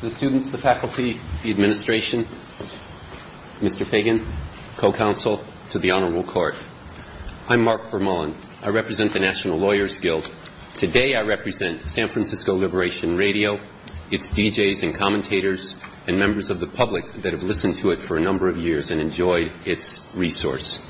To the students, the faculty, the administration, Mr. Fagan, co-counsel, to the Honorable Court. I'm Mark Vermullin. I represent the National Lawyers Guild. Today I represent San Francisco Liberation Radio, its DJs and commentators, and members of the public that have listened to it for a number of years and enjoyed its resource.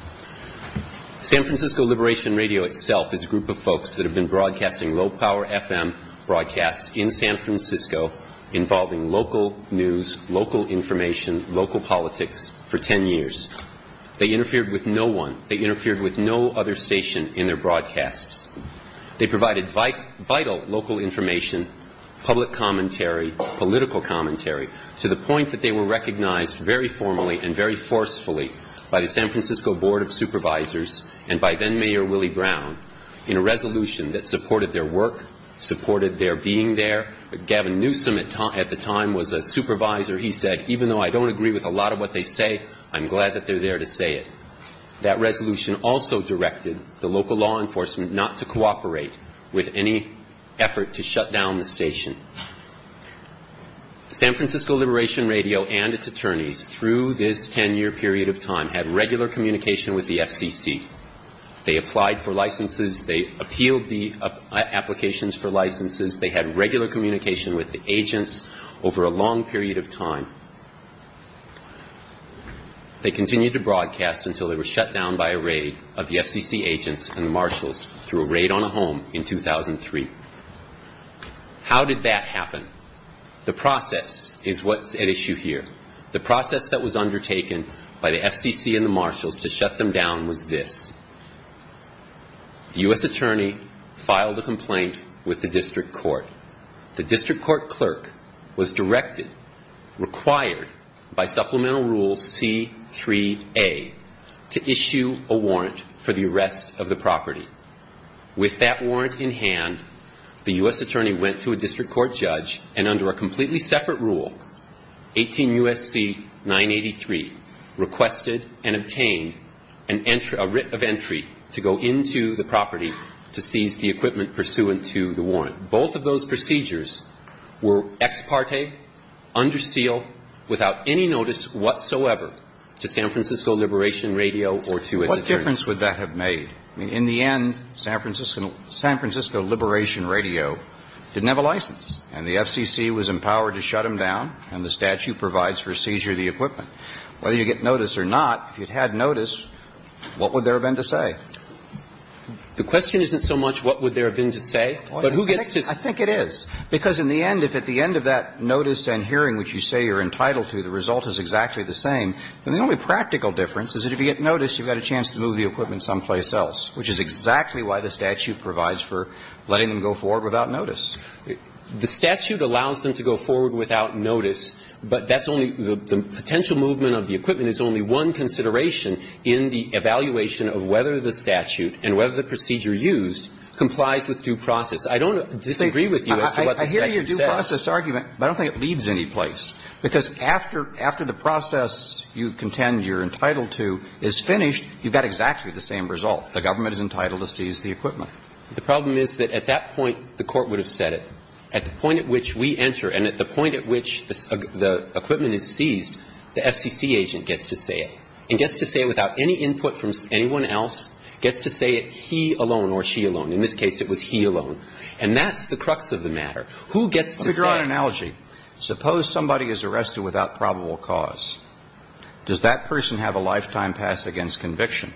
San Francisco Liberation Radio itself is a group of folks that have been broadcasting low-power FM broadcasts in San Francisco involving local news, local information, local politics for ten years. They interfered with no one. They interfered with no other station in their broadcasts. They provided vital local information, public commentary, political commentary, to the point that they were recognized very formally and very forcefully by the San Francisco Board of Supervisors and by then-Mayor Willie Brown in a resolution that supported their work, supported their being there. Gavin Newsom at the time was a supervisor. He said, even though I don't agree with a lot of what they say, I'm glad that they're there to say it. That resolution also directed the local law enforcement not to cooperate with any effort to shut down the station. San Francisco Liberation Radio and its attorneys, through this ten-year period of time, had regular communication with the FCC. They applied for licenses. They appealed the applications for licenses. They had regular communication with the agents over a long period of time. They continued to broadcast until they were shut down by a raid of the FCC agents and marshals through a raid on a home in 2003. How did that happen? The process is what's at issue here. The process that was undertaken by the FCC and the marshals to shut them down was this. The U.S. attorney filed a complaint with the district court. The district court clerk was directed, required, by Supplemental Rule C-3A to issue a warrant for the arrest of the property. With that warrant in hand, the U.S. attorney went to a district court judge and under a completely separate rule, 18 U.S.C. 983, requested and obtained a writ of entry to go into the property to seize the equipment pursuant to the warrant. Both of those procedures were ex parte, under seal, without any notice whatsoever to San Francisco Liberation Radio or to its attorneys. What difference would that have made? I mean, in the end, San Francisco Liberation Radio didn't have a license and the FCC was empowered to shut them down and the statute provides for seizure of the equipment. Whether you get notice or not, if you'd had notice, what would there have been to say? The question isn't so much what would there have been to say, but who gets to say? I think it is. Because in the end, if at the end of that notice and hearing which you say you're entitled to, the result is exactly the same. And the only practical difference is that if you get notice, you've got a chance to move the equipment someplace else, which is exactly why the statute provides for letting them go forward without notice. The statute allows them to go forward without notice, but that's only the potential movement of the equipment is only one consideration in the evaluation of whether the statute and whether the procedure used complies with due process. I don't disagree with you as to what the statute says. I hear your due process argument, but I don't think it leads anyplace. Because after the process you contend you're entitled to is finished, you've got exactly the same result. The government is entitled to seize the equipment. The problem is that at that point, the Court would have said it. At the point at which we enter and at the point at which the equipment is seized, the FCC agent gets to say it and gets to say it without any input from anyone else, gets to say it he alone or she alone. In this case, it was he alone. And that's the crux of the matter. Who gets to say it? Now, let me give you another analogy. Suppose somebody is arrested without probable cause. Does that person have a lifetime pass against conviction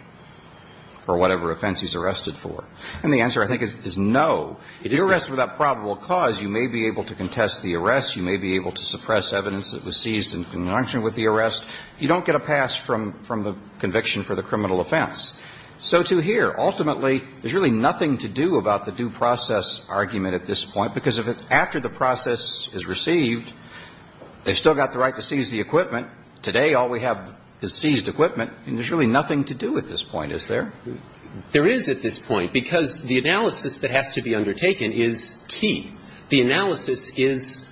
for whatever offense he's arrested for? And the answer, I think, is no. If you're arrested without probable cause, you may be able to contest the arrest. You may be able to suppress evidence that was seized in conjunction with the arrest. You don't get a pass from the conviction for the criminal offense. So to here, ultimately, there's really nothing to do about the due process argument at this point, because after the process is received, they've still got the right to seize the equipment. Today, all we have is seized equipment, and there's really nothing to do at this point, is there? There is at this point, because the analysis that has to be undertaken is key. The analysis is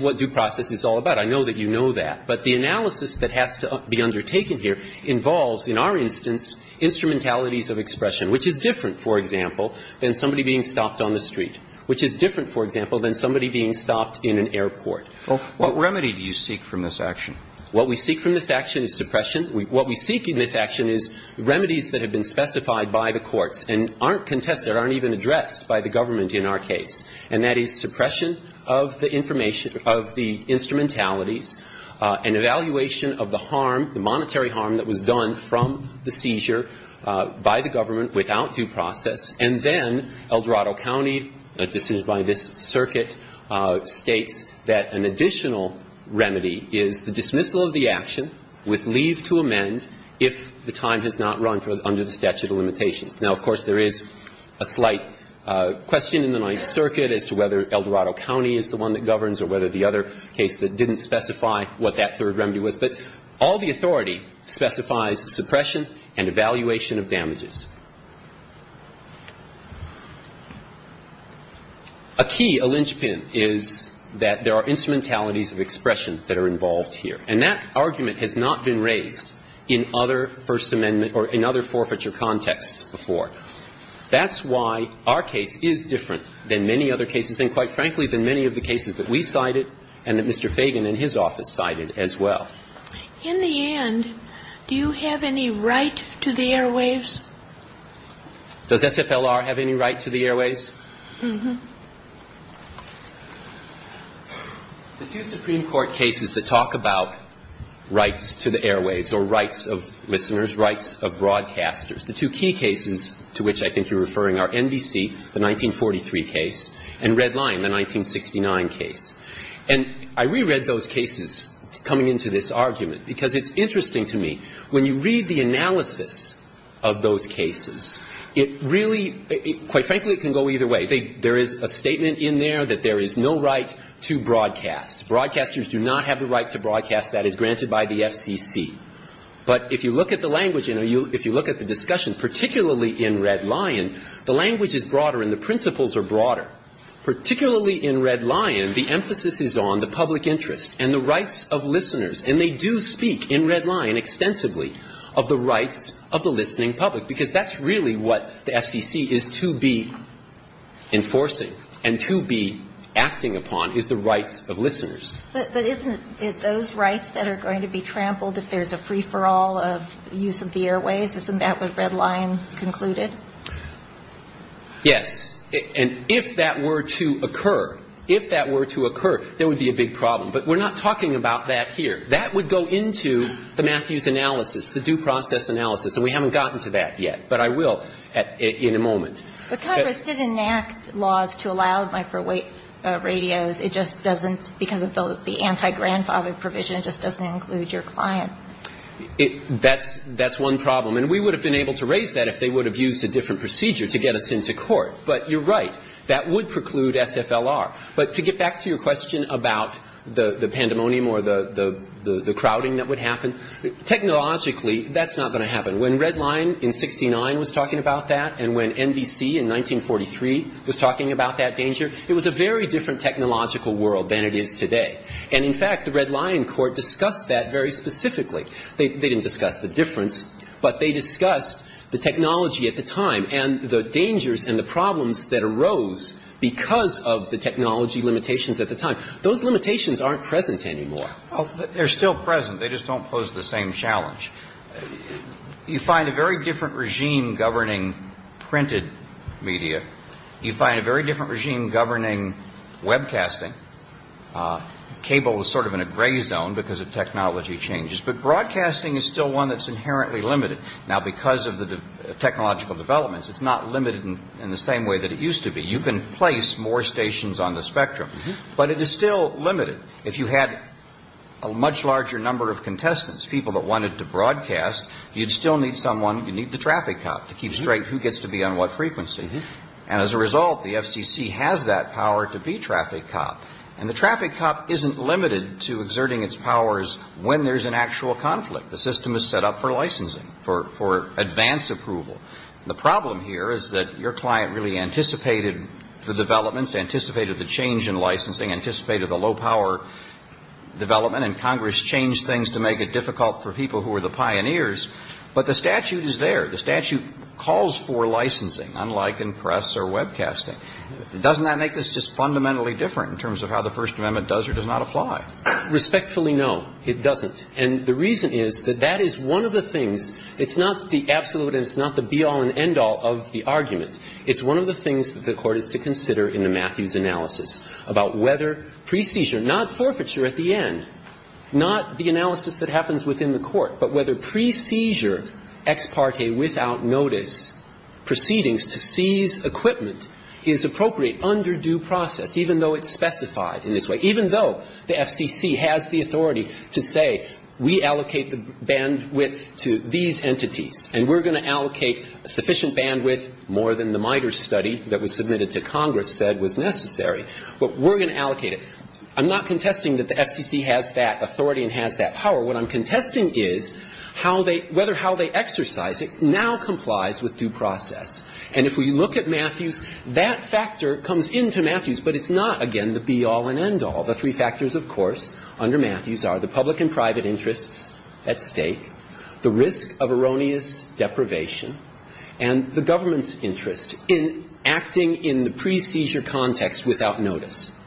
what due process is all about. I know that you know that. But the analysis that has to be undertaken here involves, in our instance, instrumentalities of expression, which is different, for example, than somebody being stopped on the street, which is different, for example, than somebody being stopped in an airport. What remedy do you seek from this action? What we seek from this action is suppression. What we seek in this action is remedies that have been specified by the courts and aren't contested, aren't even addressed by the government in our case. And that is suppression of the information of the instrumentalities, an evaluation of the harm, the monetary harm that was done from the seizure by the government without due process. And then Eldorado County, a decision by this circuit, states that an additional remedy is the dismissal of the action with leave to amend if the time has not run under the statute of limitations. Now, of course, there is a slight question in the Ninth Circuit as to whether Eldorado County is the one that governs or whether the other case didn't specify what that third remedy was. But all the authority specifies suppression and evaluation of damages. A key, a linchpin, is that there are instrumentalities of expression that are involved here. And that argument has not been raised in other First Amendment or in other forfeiture contexts before. That's why our case is different than many other cases and, quite frankly, than many of the cases that we cited and that Mr. Fagan and his office cited as well. In the end, do you have any right to the airwaves? Does SFLR have any right to the airwaves? Mm-hmm. The two Supreme Court cases that talk about rights to the airwaves or rights of listeners, rights of broadcasters, the two key cases to which I think you're referring are NBC, the 1943 case, and Red Line, the 1969 case. And I reread those cases coming into this argument because it's interesting to me. When you read the analysis of those cases, it really, quite frankly, it can go either way. There is a statement in there that there is no right to broadcast. Broadcasters do not have the right to broadcast. That is granted by the FCC. But if you look at the language and if you look at the discussion, particularly in Red Line, the language is broader and the principles are broader. Particularly in Red Line, the emphasis is on the public interest and the rights of listeners. And they do speak in Red Line extensively of the rights of the listening public because that's really what the FCC is to be enforcing and to be acting upon is the rights of listeners. But isn't it those rights that are going to be trampled if there's a free-for-all of use of the airwaves? Isn't that what Red Line concluded? Yes. And if that were to occur, if that were to occur, there would be a big problem. But we're not talking about that here. That would go into the Matthews analysis, the due process analysis. And we haven't gotten to that yet. But I will in a moment. But Congress did enact laws to allow microwave radios. It just doesn't, because of the anti-grandfather provision, it just doesn't include your client. That's one problem. And we would have been able to raise that if they would have used a different procedure to get us into court. But you're right. That would preclude SFLR. But to get back to your question about the pandemonium or the crowding that would happen, technologically, that's not going to happen. When Red Line in 69 was talking about that and when NBC in 1943 was talking about that danger, it was a very different technological world than it is today. And, in fact, the Red Line court discussed that very specifically. They didn't discuss the difference, but they discussed the technology at the time and the dangers and the problems that arose because of the technology limitations at the time. Those limitations aren't present anymore. Well, they're still present. They just don't pose the same challenge. You find a very different regime governing printed media. You find a very different regime governing webcasting. Cable is sort of in a gray zone because of technology changes. But broadcasting is still one that's inherently limited. Now, because of the technological developments, it's not limited in the same way that it used to be. You can place more stations on the spectrum. But it is still limited. If you had a much larger number of contestants, people that wanted to broadcast, you'd still need someone. You'd need the traffic cop to keep straight who gets to be on what frequency. And, as a result, the FCC has that power to be traffic cop. And the traffic cop isn't limited to exerting its powers when there's an actual conflict. The system is set up for licensing, for advanced approval. The problem here is that your client really anticipated the developments, anticipated the change in licensing, anticipated the low-power development, and Congress changed things to make it difficult for people who were the pioneers. But the statute is there. The statute calls for licensing, unlike in press or webcasting. Doesn't that make this just fundamentally different in terms of how the First Amendment does or does not apply? Respectfully, no, it doesn't. And the reason is that that is one of the things. It's not the absolute and it's not the be-all and end-all of the argument. It's one of the things that the Court is to consider in the Matthews analysis about whether pre-seizure, not forfeiture at the end, not the analysis that happens within the Court, but whether pre-seizure ex parte without notice proceedings to seize equipment is appropriate under due process, even though it's specified in this way, even though the FCC has the authority to say we allocate the bandwidth to these entities and we're going to allocate sufficient bandwidth, more than the MITRE study that was submitted to Congress said was necessary, but we're going to allocate it. I'm not contesting that the FCC has that authority and has that power. What I'm contesting is how they – whether how they exercise it now complies with due process. And if we look at Matthews, that factor comes into Matthews, but it's not, again, the be-all and end-all. The three factors, of course, under Matthews are the public and private interests at stake, the risk of erroneous deprivation, and the government's interest in acting in the pre-seizure context without notice.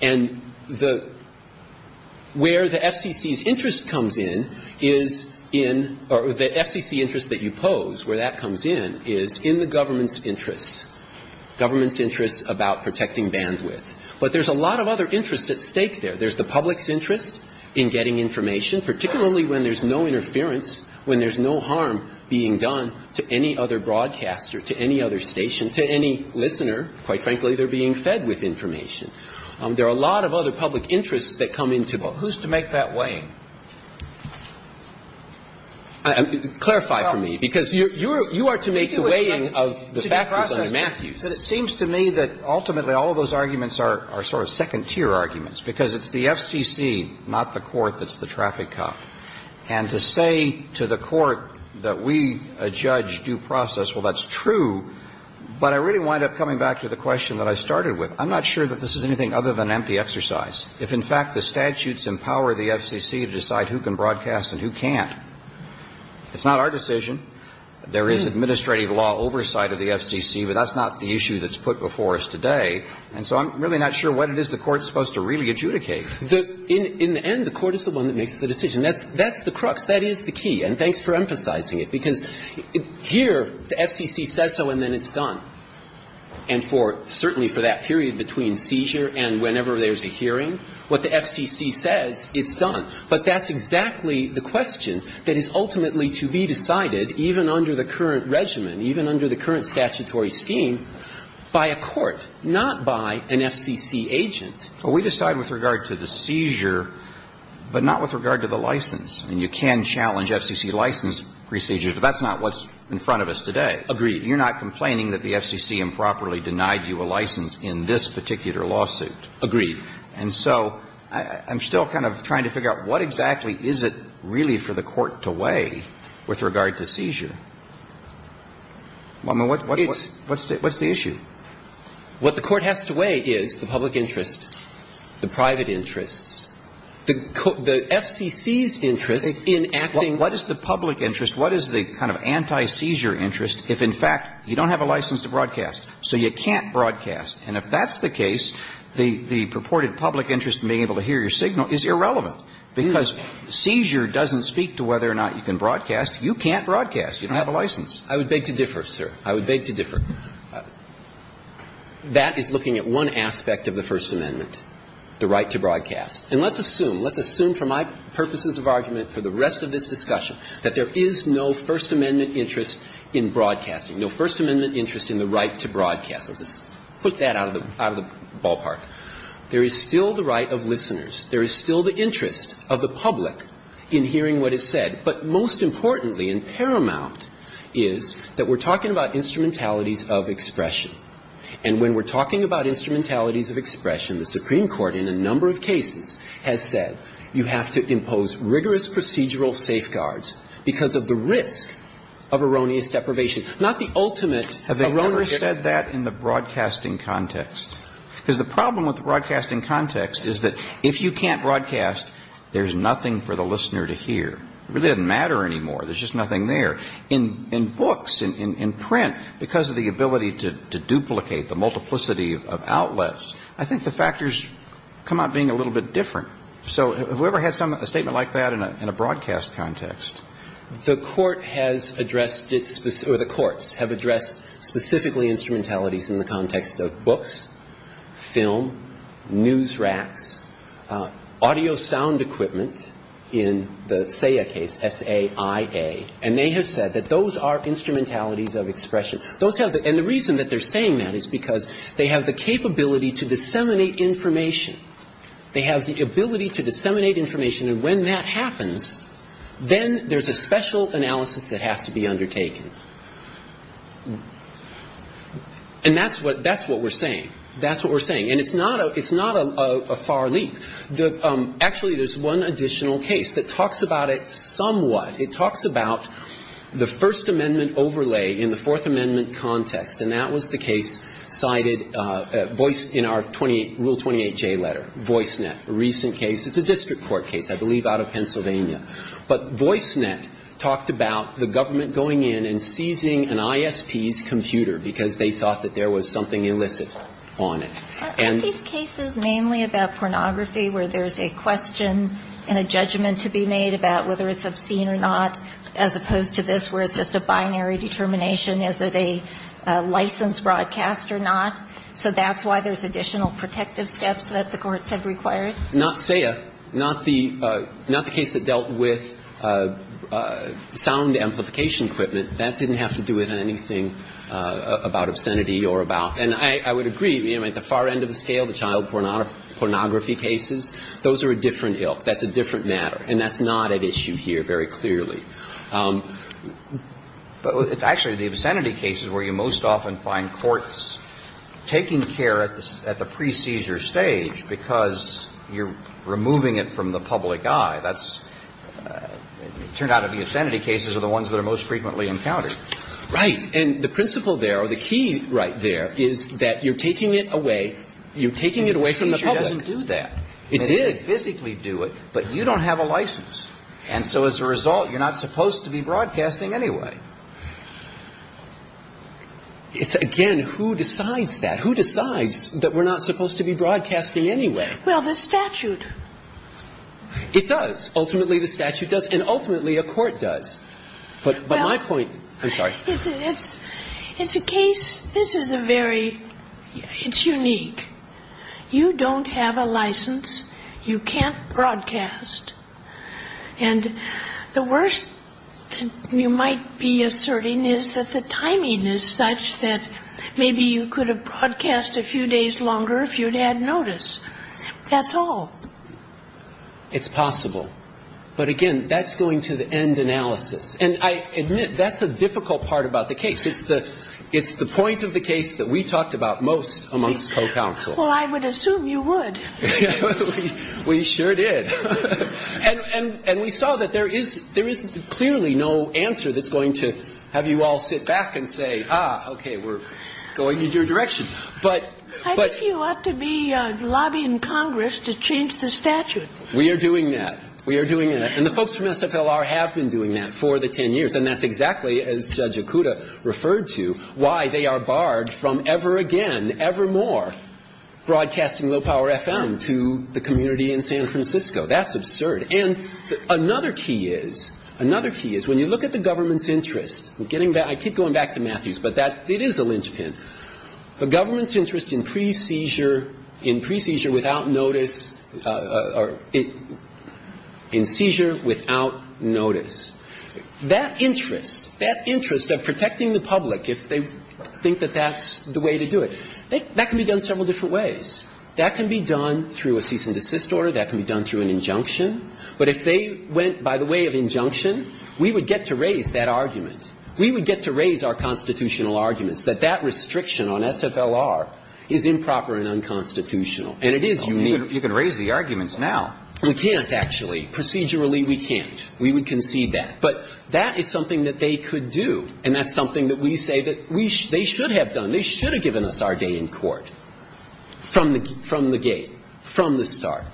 And the – where the FCC's interest comes in is in – or the FCC interest that you have is in the government's interest, government's interest about protecting bandwidth. But there's a lot of other interest at stake there. There's the public's interest in getting information, particularly when there's no interference, when there's no harm being done to any other broadcaster, to any other station, to any listener. Quite frankly, they're being fed with information. There are a lot of other public interests that come into play. Well, who's to make that weighing? Clarify for me, because you're – you are to make the weighing of the factors under Matthews. It seems to me that ultimately all of those arguments are sort of second-tier arguments, because it's the FCC, not the court, that's the traffic cop. And to say to the court that we, a judge, do process, well, that's true, but I really wind up coming back to the question that I started with. I'm not sure that this is anything other than empty exercise. If, in fact, the statutes empower the FCC to decide who can broadcast and who can't, it's not our decision. There is administrative law oversight of the FCC, but that's not the issue that's put before us today. And so I'm really not sure what it is the court's supposed to really adjudicate. In the end, the court is the one that makes the decision. That's the crux. That is the key. And thanks for emphasizing it, because here the FCC says so and then it's done. And for, certainly for that period between seizure and whenever there's a hearing, what the FCC says, it's done. But that's exactly the question that is ultimately to be decided, even under the current regimen, even under the current statutory scheme, by a court, not by an FCC agent. Well, we decide with regard to the seizure, but not with regard to the license. I mean, you can challenge FCC license procedures, but that's not what's in front of us today. Agreed. You're not complaining that the FCC improperly denied you a license in this particular lawsuit. Agreed. And so I'm still kind of trying to figure out what exactly is it really for the court to weigh with regard to seizure. I mean, what's the issue? What the court has to weigh is the public interest, the private interests. The FCC's interest in acting What is the public interest? What is the kind of anti-seizure interest if, in fact, you don't have a license to broadcast, so you can't broadcast? And if that's the case, the purported public interest in being able to hear your signal is irrelevant, because seizure doesn't speak to whether or not you can broadcast. You can't broadcast. You don't have a license. I would beg to differ, sir. I would beg to differ. That is looking at one aspect of the First Amendment, the right to broadcast. And let's assume, let's assume for my purposes of argument for the rest of this discussion that there is no First Amendment interest in broadcasting, no First Amendment interest in the right to broadcast. Let's just put that out of the ballpark. There is still the right of listeners. There is still the interest of the public in hearing what is said. But most importantly and paramount is that we're talking about instrumentalities of expression. And when we're talking about instrumentalities of expression, the Supreme Court in a number of cases has said you have to impose rigorous procedural safeguards because of the risk of erroneous deprivation, not the ultimate erroneous deprivation. Have they ever said that in the broadcasting context? Because the problem with the broadcasting context is that if you can't broadcast, there's nothing for the listener to hear. It really doesn't matter anymore. There's just nothing there. In books, in print, because of the ability to duplicate the multiplicity of outlets, I think the factors come out being a little bit different. So have we ever had a statement like that in a broadcast context? The Court has addressed it or the courts have addressed specifically instrumentalities in the context of books, film, news racks, audio sound equipment in the SAIA case, S-A-I-A. And they have said that those are instrumentalities of expression. Those have the – and the reason that they're saying that is because they have the capability to disseminate information. They have the ability to disseminate information. And when that happens, then there's a special analysis that has to be undertaken. And that's what – that's what we're saying. That's what we're saying. And it's not a – it's not a far leap. Actually, there's one additional case that talks about it somewhat. It talks about the First Amendment overlay in the Fourth Amendment context. And that was the case cited – in our Rule 28J letter, Voicenet, a recent case. It's a district court case, I believe, out of Pennsylvania. But Voicenet talked about the government going in and seizing an ISP's computer because they thought that there was something illicit on it. And these cases mainly about pornography where there's a question and a judgment to be made about whether it's obscene or not, as opposed to this where it's just a binary determination, is it a licensed broadcast or not. So that's why there's additional protective steps that the courts have required. Not SAIA. Not the – not the case that dealt with sound amplification equipment. That didn't have to do with anything about obscenity or about – and I would agree. I mean, at the far end of the scale, the child pornography cases, those are a different ilk. That's a different matter. And that's not at issue here very clearly. But it's actually the obscenity cases where you most often find courts taking care at the – at the pre-seizure stage because you're removing it from the public eye. That's – it turned out that the obscenity cases are the ones that are most frequently encountered. Right. And the principle there, or the key right there, is that you're taking it away. You're taking it away from the public. It's not that you didn't do that. It did. You physically do it, but you don't have a license. And so as a result, you're not supposed to be broadcasting anyway. It's, again, who decides that? Who decides that we're not supposed to be broadcasting anyway? Well, the statute. It does. Ultimately, the statute does. And ultimately, a court does. But my point – I'm sorry. It's a case – this is a very – it's unique. You don't have a license. You can't broadcast. And the worst thing you might be asserting is that the timing is such that maybe you could have broadcast a few days longer if you'd had notice. That's all. It's possible. But, again, that's going to the end analysis. And I admit, that's the difficult part about the case. It's the point of the case that we talked about most amongst co-counsel. Well, I would assume you would. We sure did. And we saw that there is clearly no answer that's going to have you all sit back and say, ah, okay, we're going in your direction. I think you ought to be lobbying Congress to change the statute. We are doing that. We are doing that. And the folks from SFLR have been doing that for the 10 years. And that's exactly, as Judge Okuda referred to, why they are barred from ever again, ever more broadcasting low-power FM to the community in San Francisco. That's absurd. And another key is, another key is, when you look at the government's interest, I keep going back to Matthews, but it is a linchpin. The government's interest in pre-seizure, in pre-seizure without notice, in seizure without notice. That interest, that interest of protecting the public if they think that that's the way to do it, that can be done several different ways. That can be done through a cease and desist order. That can be done through an injunction. But if they went by the way of injunction, we would get to raise that argument. We would get to raise our constitutional arguments that that restriction on SFLR is improper and unconstitutional. And it is unique. You can raise the arguments now. We can't, actually. Procedurally, we can't. We would concede that. But that is something that they could do. And that's something that we say that they should have done. They should have given us our day in court from the gate, from the start.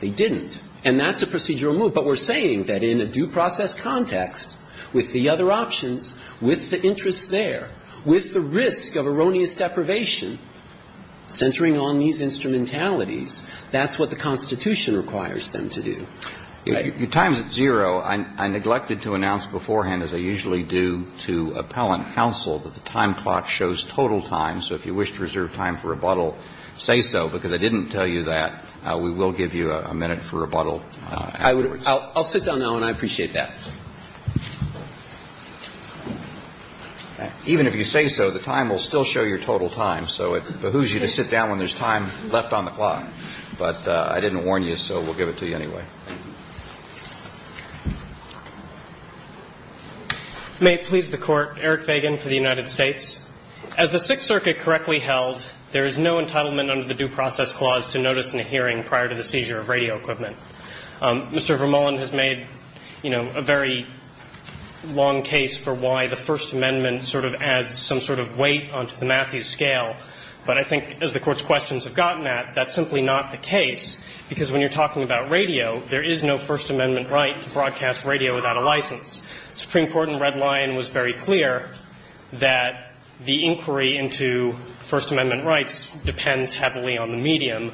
They didn't. And that's a procedural move. But we're saying that in a due process context, with the other options, with the interest there, with the risk of erroneous deprivation centering on these instrumentalities, that's what the Constitution requires them to do. If your time is at zero, I neglected to announce beforehand, as I usually do to appellant counsel, that the time clock shows total time. So if you wish to reserve time for rebuttal, say so, because I didn't tell you that. We will give you a minute for rebuttal afterwards. I'll sit down now, and I appreciate that. Even if you say so, the time will still show your total time. So it behooves you to sit down when there's time left on the clock. But I didn't warn you, so we'll give it to you anyway. Thank you. May it please the Court. Eric Fagan for the United States. As the Sixth Circuit correctly held, there is no entitlement under the Due Process Clause to notice in a hearing prior to the seizure of radio equipment. Mr. Vermullin has made, you know, a very long case for why the First Amendment sort of adds some sort of weight onto the Matthews scale. But I think, as the Court's questions have gotten at, that's simply not the case, because when you're talking about radio, there is no First Amendment right to broadcast radio without a license. The Supreme Court in Red Lion was very clear that the inquiry into First Amendment rights depends heavily on the medium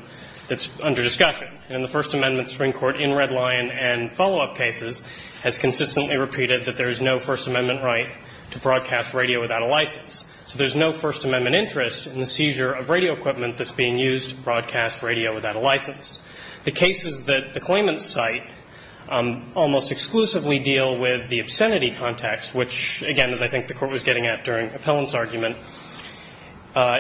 that's under discussion. And in the First Amendment, the Supreme Court in Red Lion and follow-up cases has consistently repeated that there is no First Amendment right to broadcast radio without a license. So there's no First Amendment interest in the seizure of radio equipment that's being used to broadcast radio without a license. The cases that the claimants cite almost exclusively deal with the obscenity context, which, again, as I think the Court was getting at during Appellant's argument,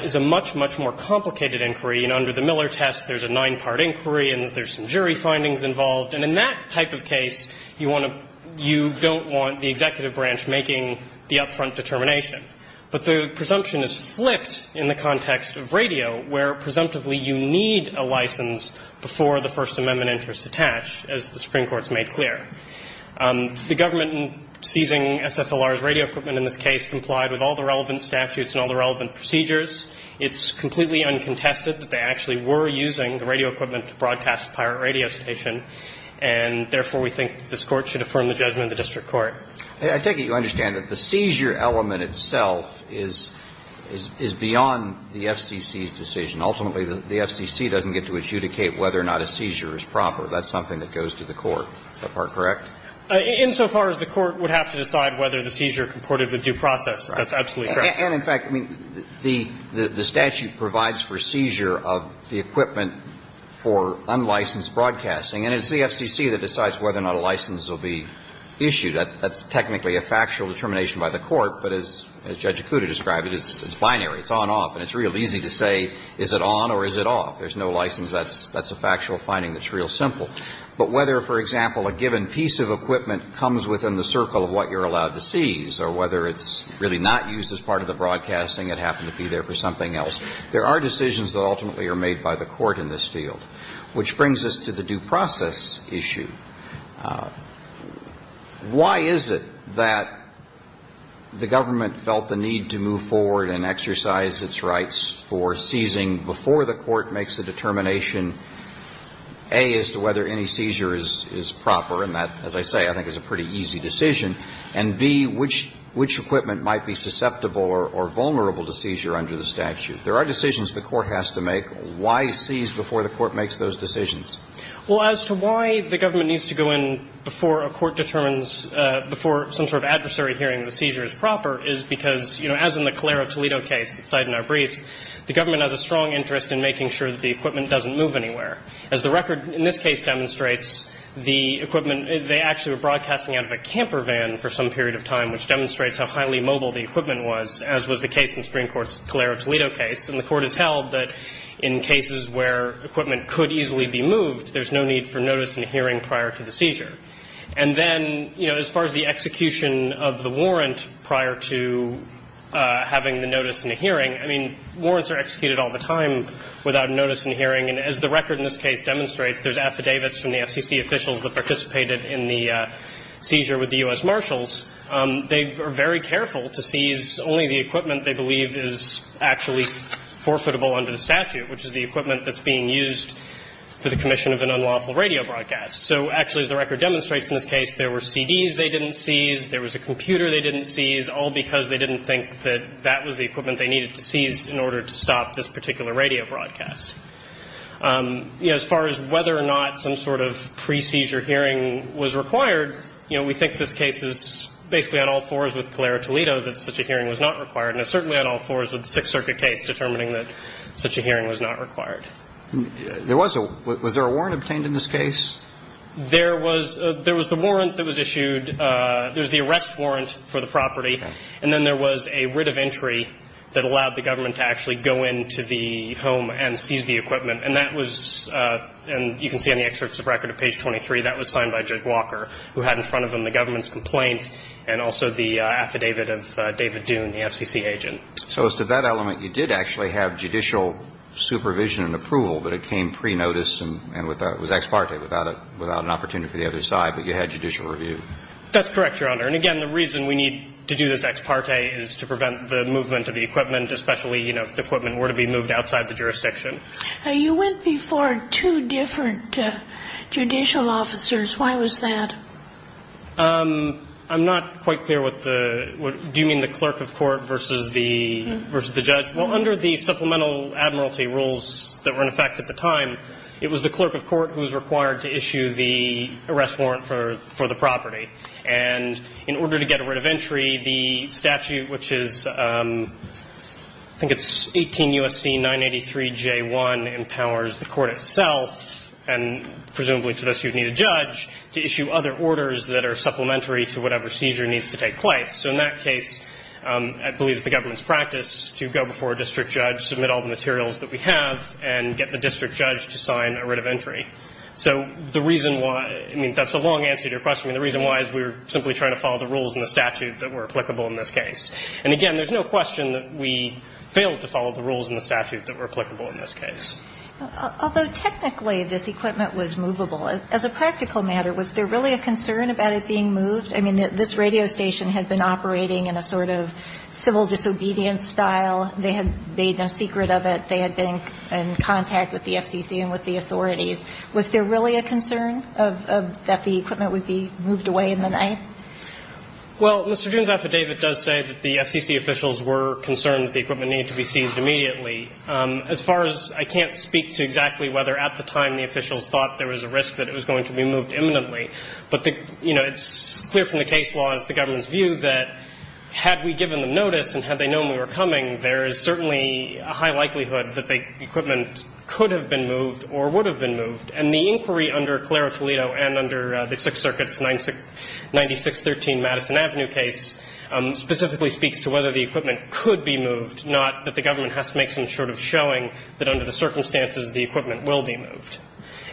is a much, much more complicated inquiry. And under the Miller test, there's a nine-part inquiry and there's some jury findings involved. And in that type of case, you want to – you don't want the executive branch making the up-front determination. But the presumption is flipped in the context of radio, where presumptively you need a license before the First Amendment interest attached, as the Supreme Court's made clear. The government seizing SFLR's radio equipment in this case complied with all the relevant statutes and all the relevant procedures. It's completely uncontested that they actually were using the radio equipment to broadcast the pirate radio station, and therefore, we think this Court should affirm the judgment of the district court. I take it you understand that the seizure element itself is beyond the FCC's decision. Ultimately, the FCC doesn't get to adjudicate whether or not a seizure is proper. That's something that goes to the Court. Is that part correct? Insofar as the Court would have to decide whether the seizure comported with due process, that's absolutely correct. And in fact, I mean, the statute provides for seizure of the equipment for unlicensed broadcasting, and it's the FCC that decides whether or not a license will be issued. That's technically a factual determination by the Court. But as Judge Akuta described it, it's binary. It's on-off. And it's real easy to say, is it on or is it off? There's no license. That's a factual finding that's real simple. But whether, for example, a given piece of equipment comes within the circle of what you're allowed to seize or whether it's really not used as part of the broadcasting and happened to be there for something else, there are decisions that ultimately are made by the Court in this field, which brings us to the due process issue. Why is it that the government felt the need to move forward and exercise its rights for seizing before the Court makes a determination, A, as to whether any seizure is proper, and that, as I say, I think is a pretty easy decision, and, B, which equipment might be susceptible or vulnerable to seizure under the statute? There are decisions the Court has to make. Why seize before the Court makes those decisions? Well, as to why the government needs to go in before a Court determines before some sort of adversary hearing the seizure is proper is because, you know, as in the Calero-Toledo case that's cited in our briefs, the government has a strong interest in making sure that the equipment doesn't move anywhere. As the record in this case demonstrates, the equipment, they actually were broadcasting out of a camper van for some period of time, which demonstrates how highly mobile the equipment was, as was the case in the Supreme Court's Calero-Toledo case. And the Court has held that in cases where equipment could easily be moved, there's no need for notice and hearing prior to the seizure. And then, you know, as far as the execution of the warrant prior to having the notice and the hearing, I mean, warrants are executed all the time without notice and hearing. And as the record in this case demonstrates, there's affidavits from the FCC officials that participated in the seizure with the U.S. Marshals. They are very careful to seize only the equipment they believe is actually forfeitable under the statute, which is the equipment that's being used for the commission of an unlawful radio broadcast. So actually, as the record demonstrates in this case, there were CDs they didn't seize, there was a computer they didn't seize, all because they didn't think that that was the equipment they needed to seize in order to stop this particular radio broadcast. You know, as far as whether or not some sort of pre-seizure hearing was required, you know, we think this case is basically on all fours with Calera Toledo that such a hearing was not required, and it's certainly on all fours with the Sixth Circuit case determining that such a hearing was not required. There was a – was there a warrant obtained in this case? There was – there was the warrant that was issued – there was the arrest warrant for the property, and then there was a writ of entry that allowed the government to actually go into the home and seize the equipment. And that was – and you can see on the excerpts of record at page 23, that was signed by Judge Walker, who had in front of him the government's complaints and also the affidavit of David Dune, the FCC agent. So as to that element, you did actually have judicial supervision and approval, but it came pre-notice and without – it was ex parte, without an opportunity for the other side, but you had judicial review. That's correct, Your Honor. And again, the reason we need to do this ex parte is to prevent the movement of the equipment, especially, you know, if the equipment were to be moved outside the jurisdiction. You went before two different judicial officers. Why was that? I'm not quite clear what the – do you mean the clerk of court versus the judge? Well, under the supplemental admiralty rules that were in effect at the time, it was the clerk of court who was required to issue the arrest warrant for the property. And in order to get a writ of entry, the statute, which is – I think it's 18 U.S.C. 983J1, empowers the court itself and presumably to those who need a judge to issue other orders that are supplementary to whatever seizure needs to take place. So in that case, I believe it's the government's practice to go before a district judge, submit all the materials that we have, and get the district judge to sign a writ of entry. So the reason why – I mean, that's a long answer to your question. I mean, the reason why is we were simply trying to follow the rules in the statute that were applicable in this case. And again, there's no question that we failed to follow the rules in the statute that were applicable in this case. Although technically this equipment was movable, as a practical matter, was there really a concern about it being moved? I mean, this radio station had been operating in a sort of civil disobedience style. They had made no secret of it. They had been in contact with the FCC and with the authorities. Was there really a concern of – that the equipment would be moved away in the night? Well, Mr. June's affidavit does say that the FCC officials were concerned that the equipment needed to be seized immediately. As far as – I can't speak to exactly whether at the time the officials thought there was a risk that it was going to be moved imminently. But, you know, it's clear from the case law, it's the government's view, that had we given them notice and had they known we were coming, there is certainly a high likelihood that the equipment could have been moved or would have been moved. And the inquiry under Clara Toledo and under the Sixth Circuit's 9613 Madison Avenue case specifically speaks to whether the equipment could be moved, not that the government has to make some sort of showing that under the circumstances the equipment will be moved.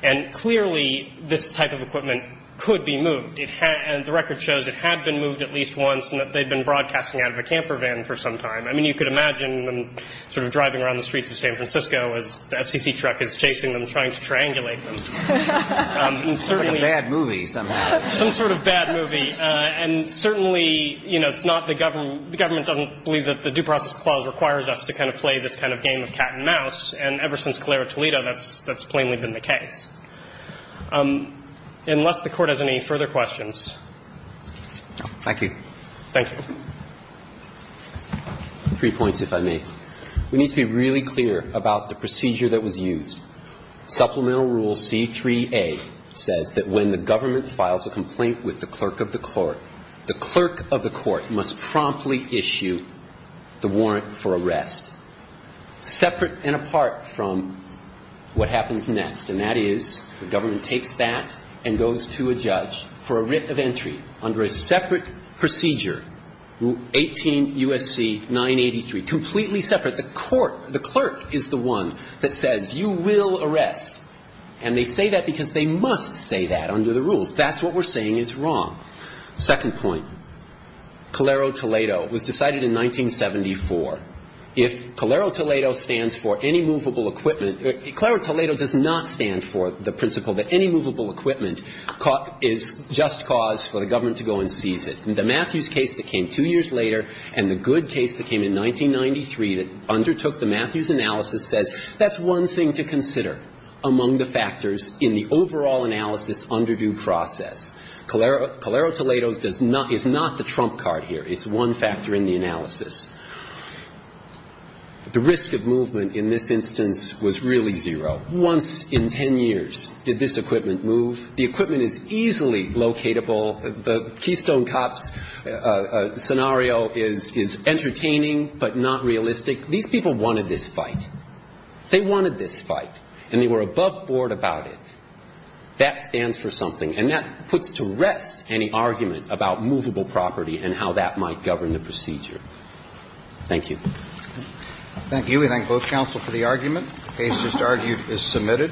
And clearly this type of equipment could be moved. The record shows it had been moved at least once and that they had been broadcasting out of a camper van for some time. I mean, you could imagine them sort of driving around the streets of San Francisco as the FCC truck is chasing them, trying to triangulate them. It's like a bad movie somehow. Some sort of bad movie. And certainly, you know, it's not the government – the government doesn't believe that the Due Process Clause requires us to kind of play this kind of game of cat and mouse. And ever since Clara Toledo, that's plainly been the case. Unless the Court has any further questions. Thank you. Thank you. Three points, if I may. We need to be really clear about the procedure that was used. Supplemental Rule C-3A says that when the government files a complaint with the clerk of the court, the clerk of the court must promptly issue the warrant for arrest, separate and apart from what happens next, and that is the government takes that and goes to a judge for a writ of entry under a separate procedure, Rule 18 U.S.C. 983, completely separate. The court – the clerk is the one that says, you will arrest. And they say that because they must say that under the rules. That's what we're saying is wrong. Second point. Clara Toledo was decided in 1974. If Clara Toledo stands for any movable equipment – Clara Toledo does not stand for the principle that any movable equipment is just cause for the government to go and seize it. The Matthews case that came two years later and the Good case that came in 1993 that undertook the Matthews analysis says that's one thing to consider among the factors in the overall analysis under due process. Clara – Clara Toledo does not – is not the trump card here. It's one factor in the analysis. The risk of movement in this instance was really zero. Once in ten years did this equipment move. The equipment is easily locatable. The Keystone Cops scenario is entertaining but not realistic. These people wanted this fight. They wanted this fight. And they were above board about it. That stands for something. And that puts to rest any argument about movable property and how that might govern the procedure. Thank you. Thank you. We thank both counsel for the argument. Case just argued is submitted.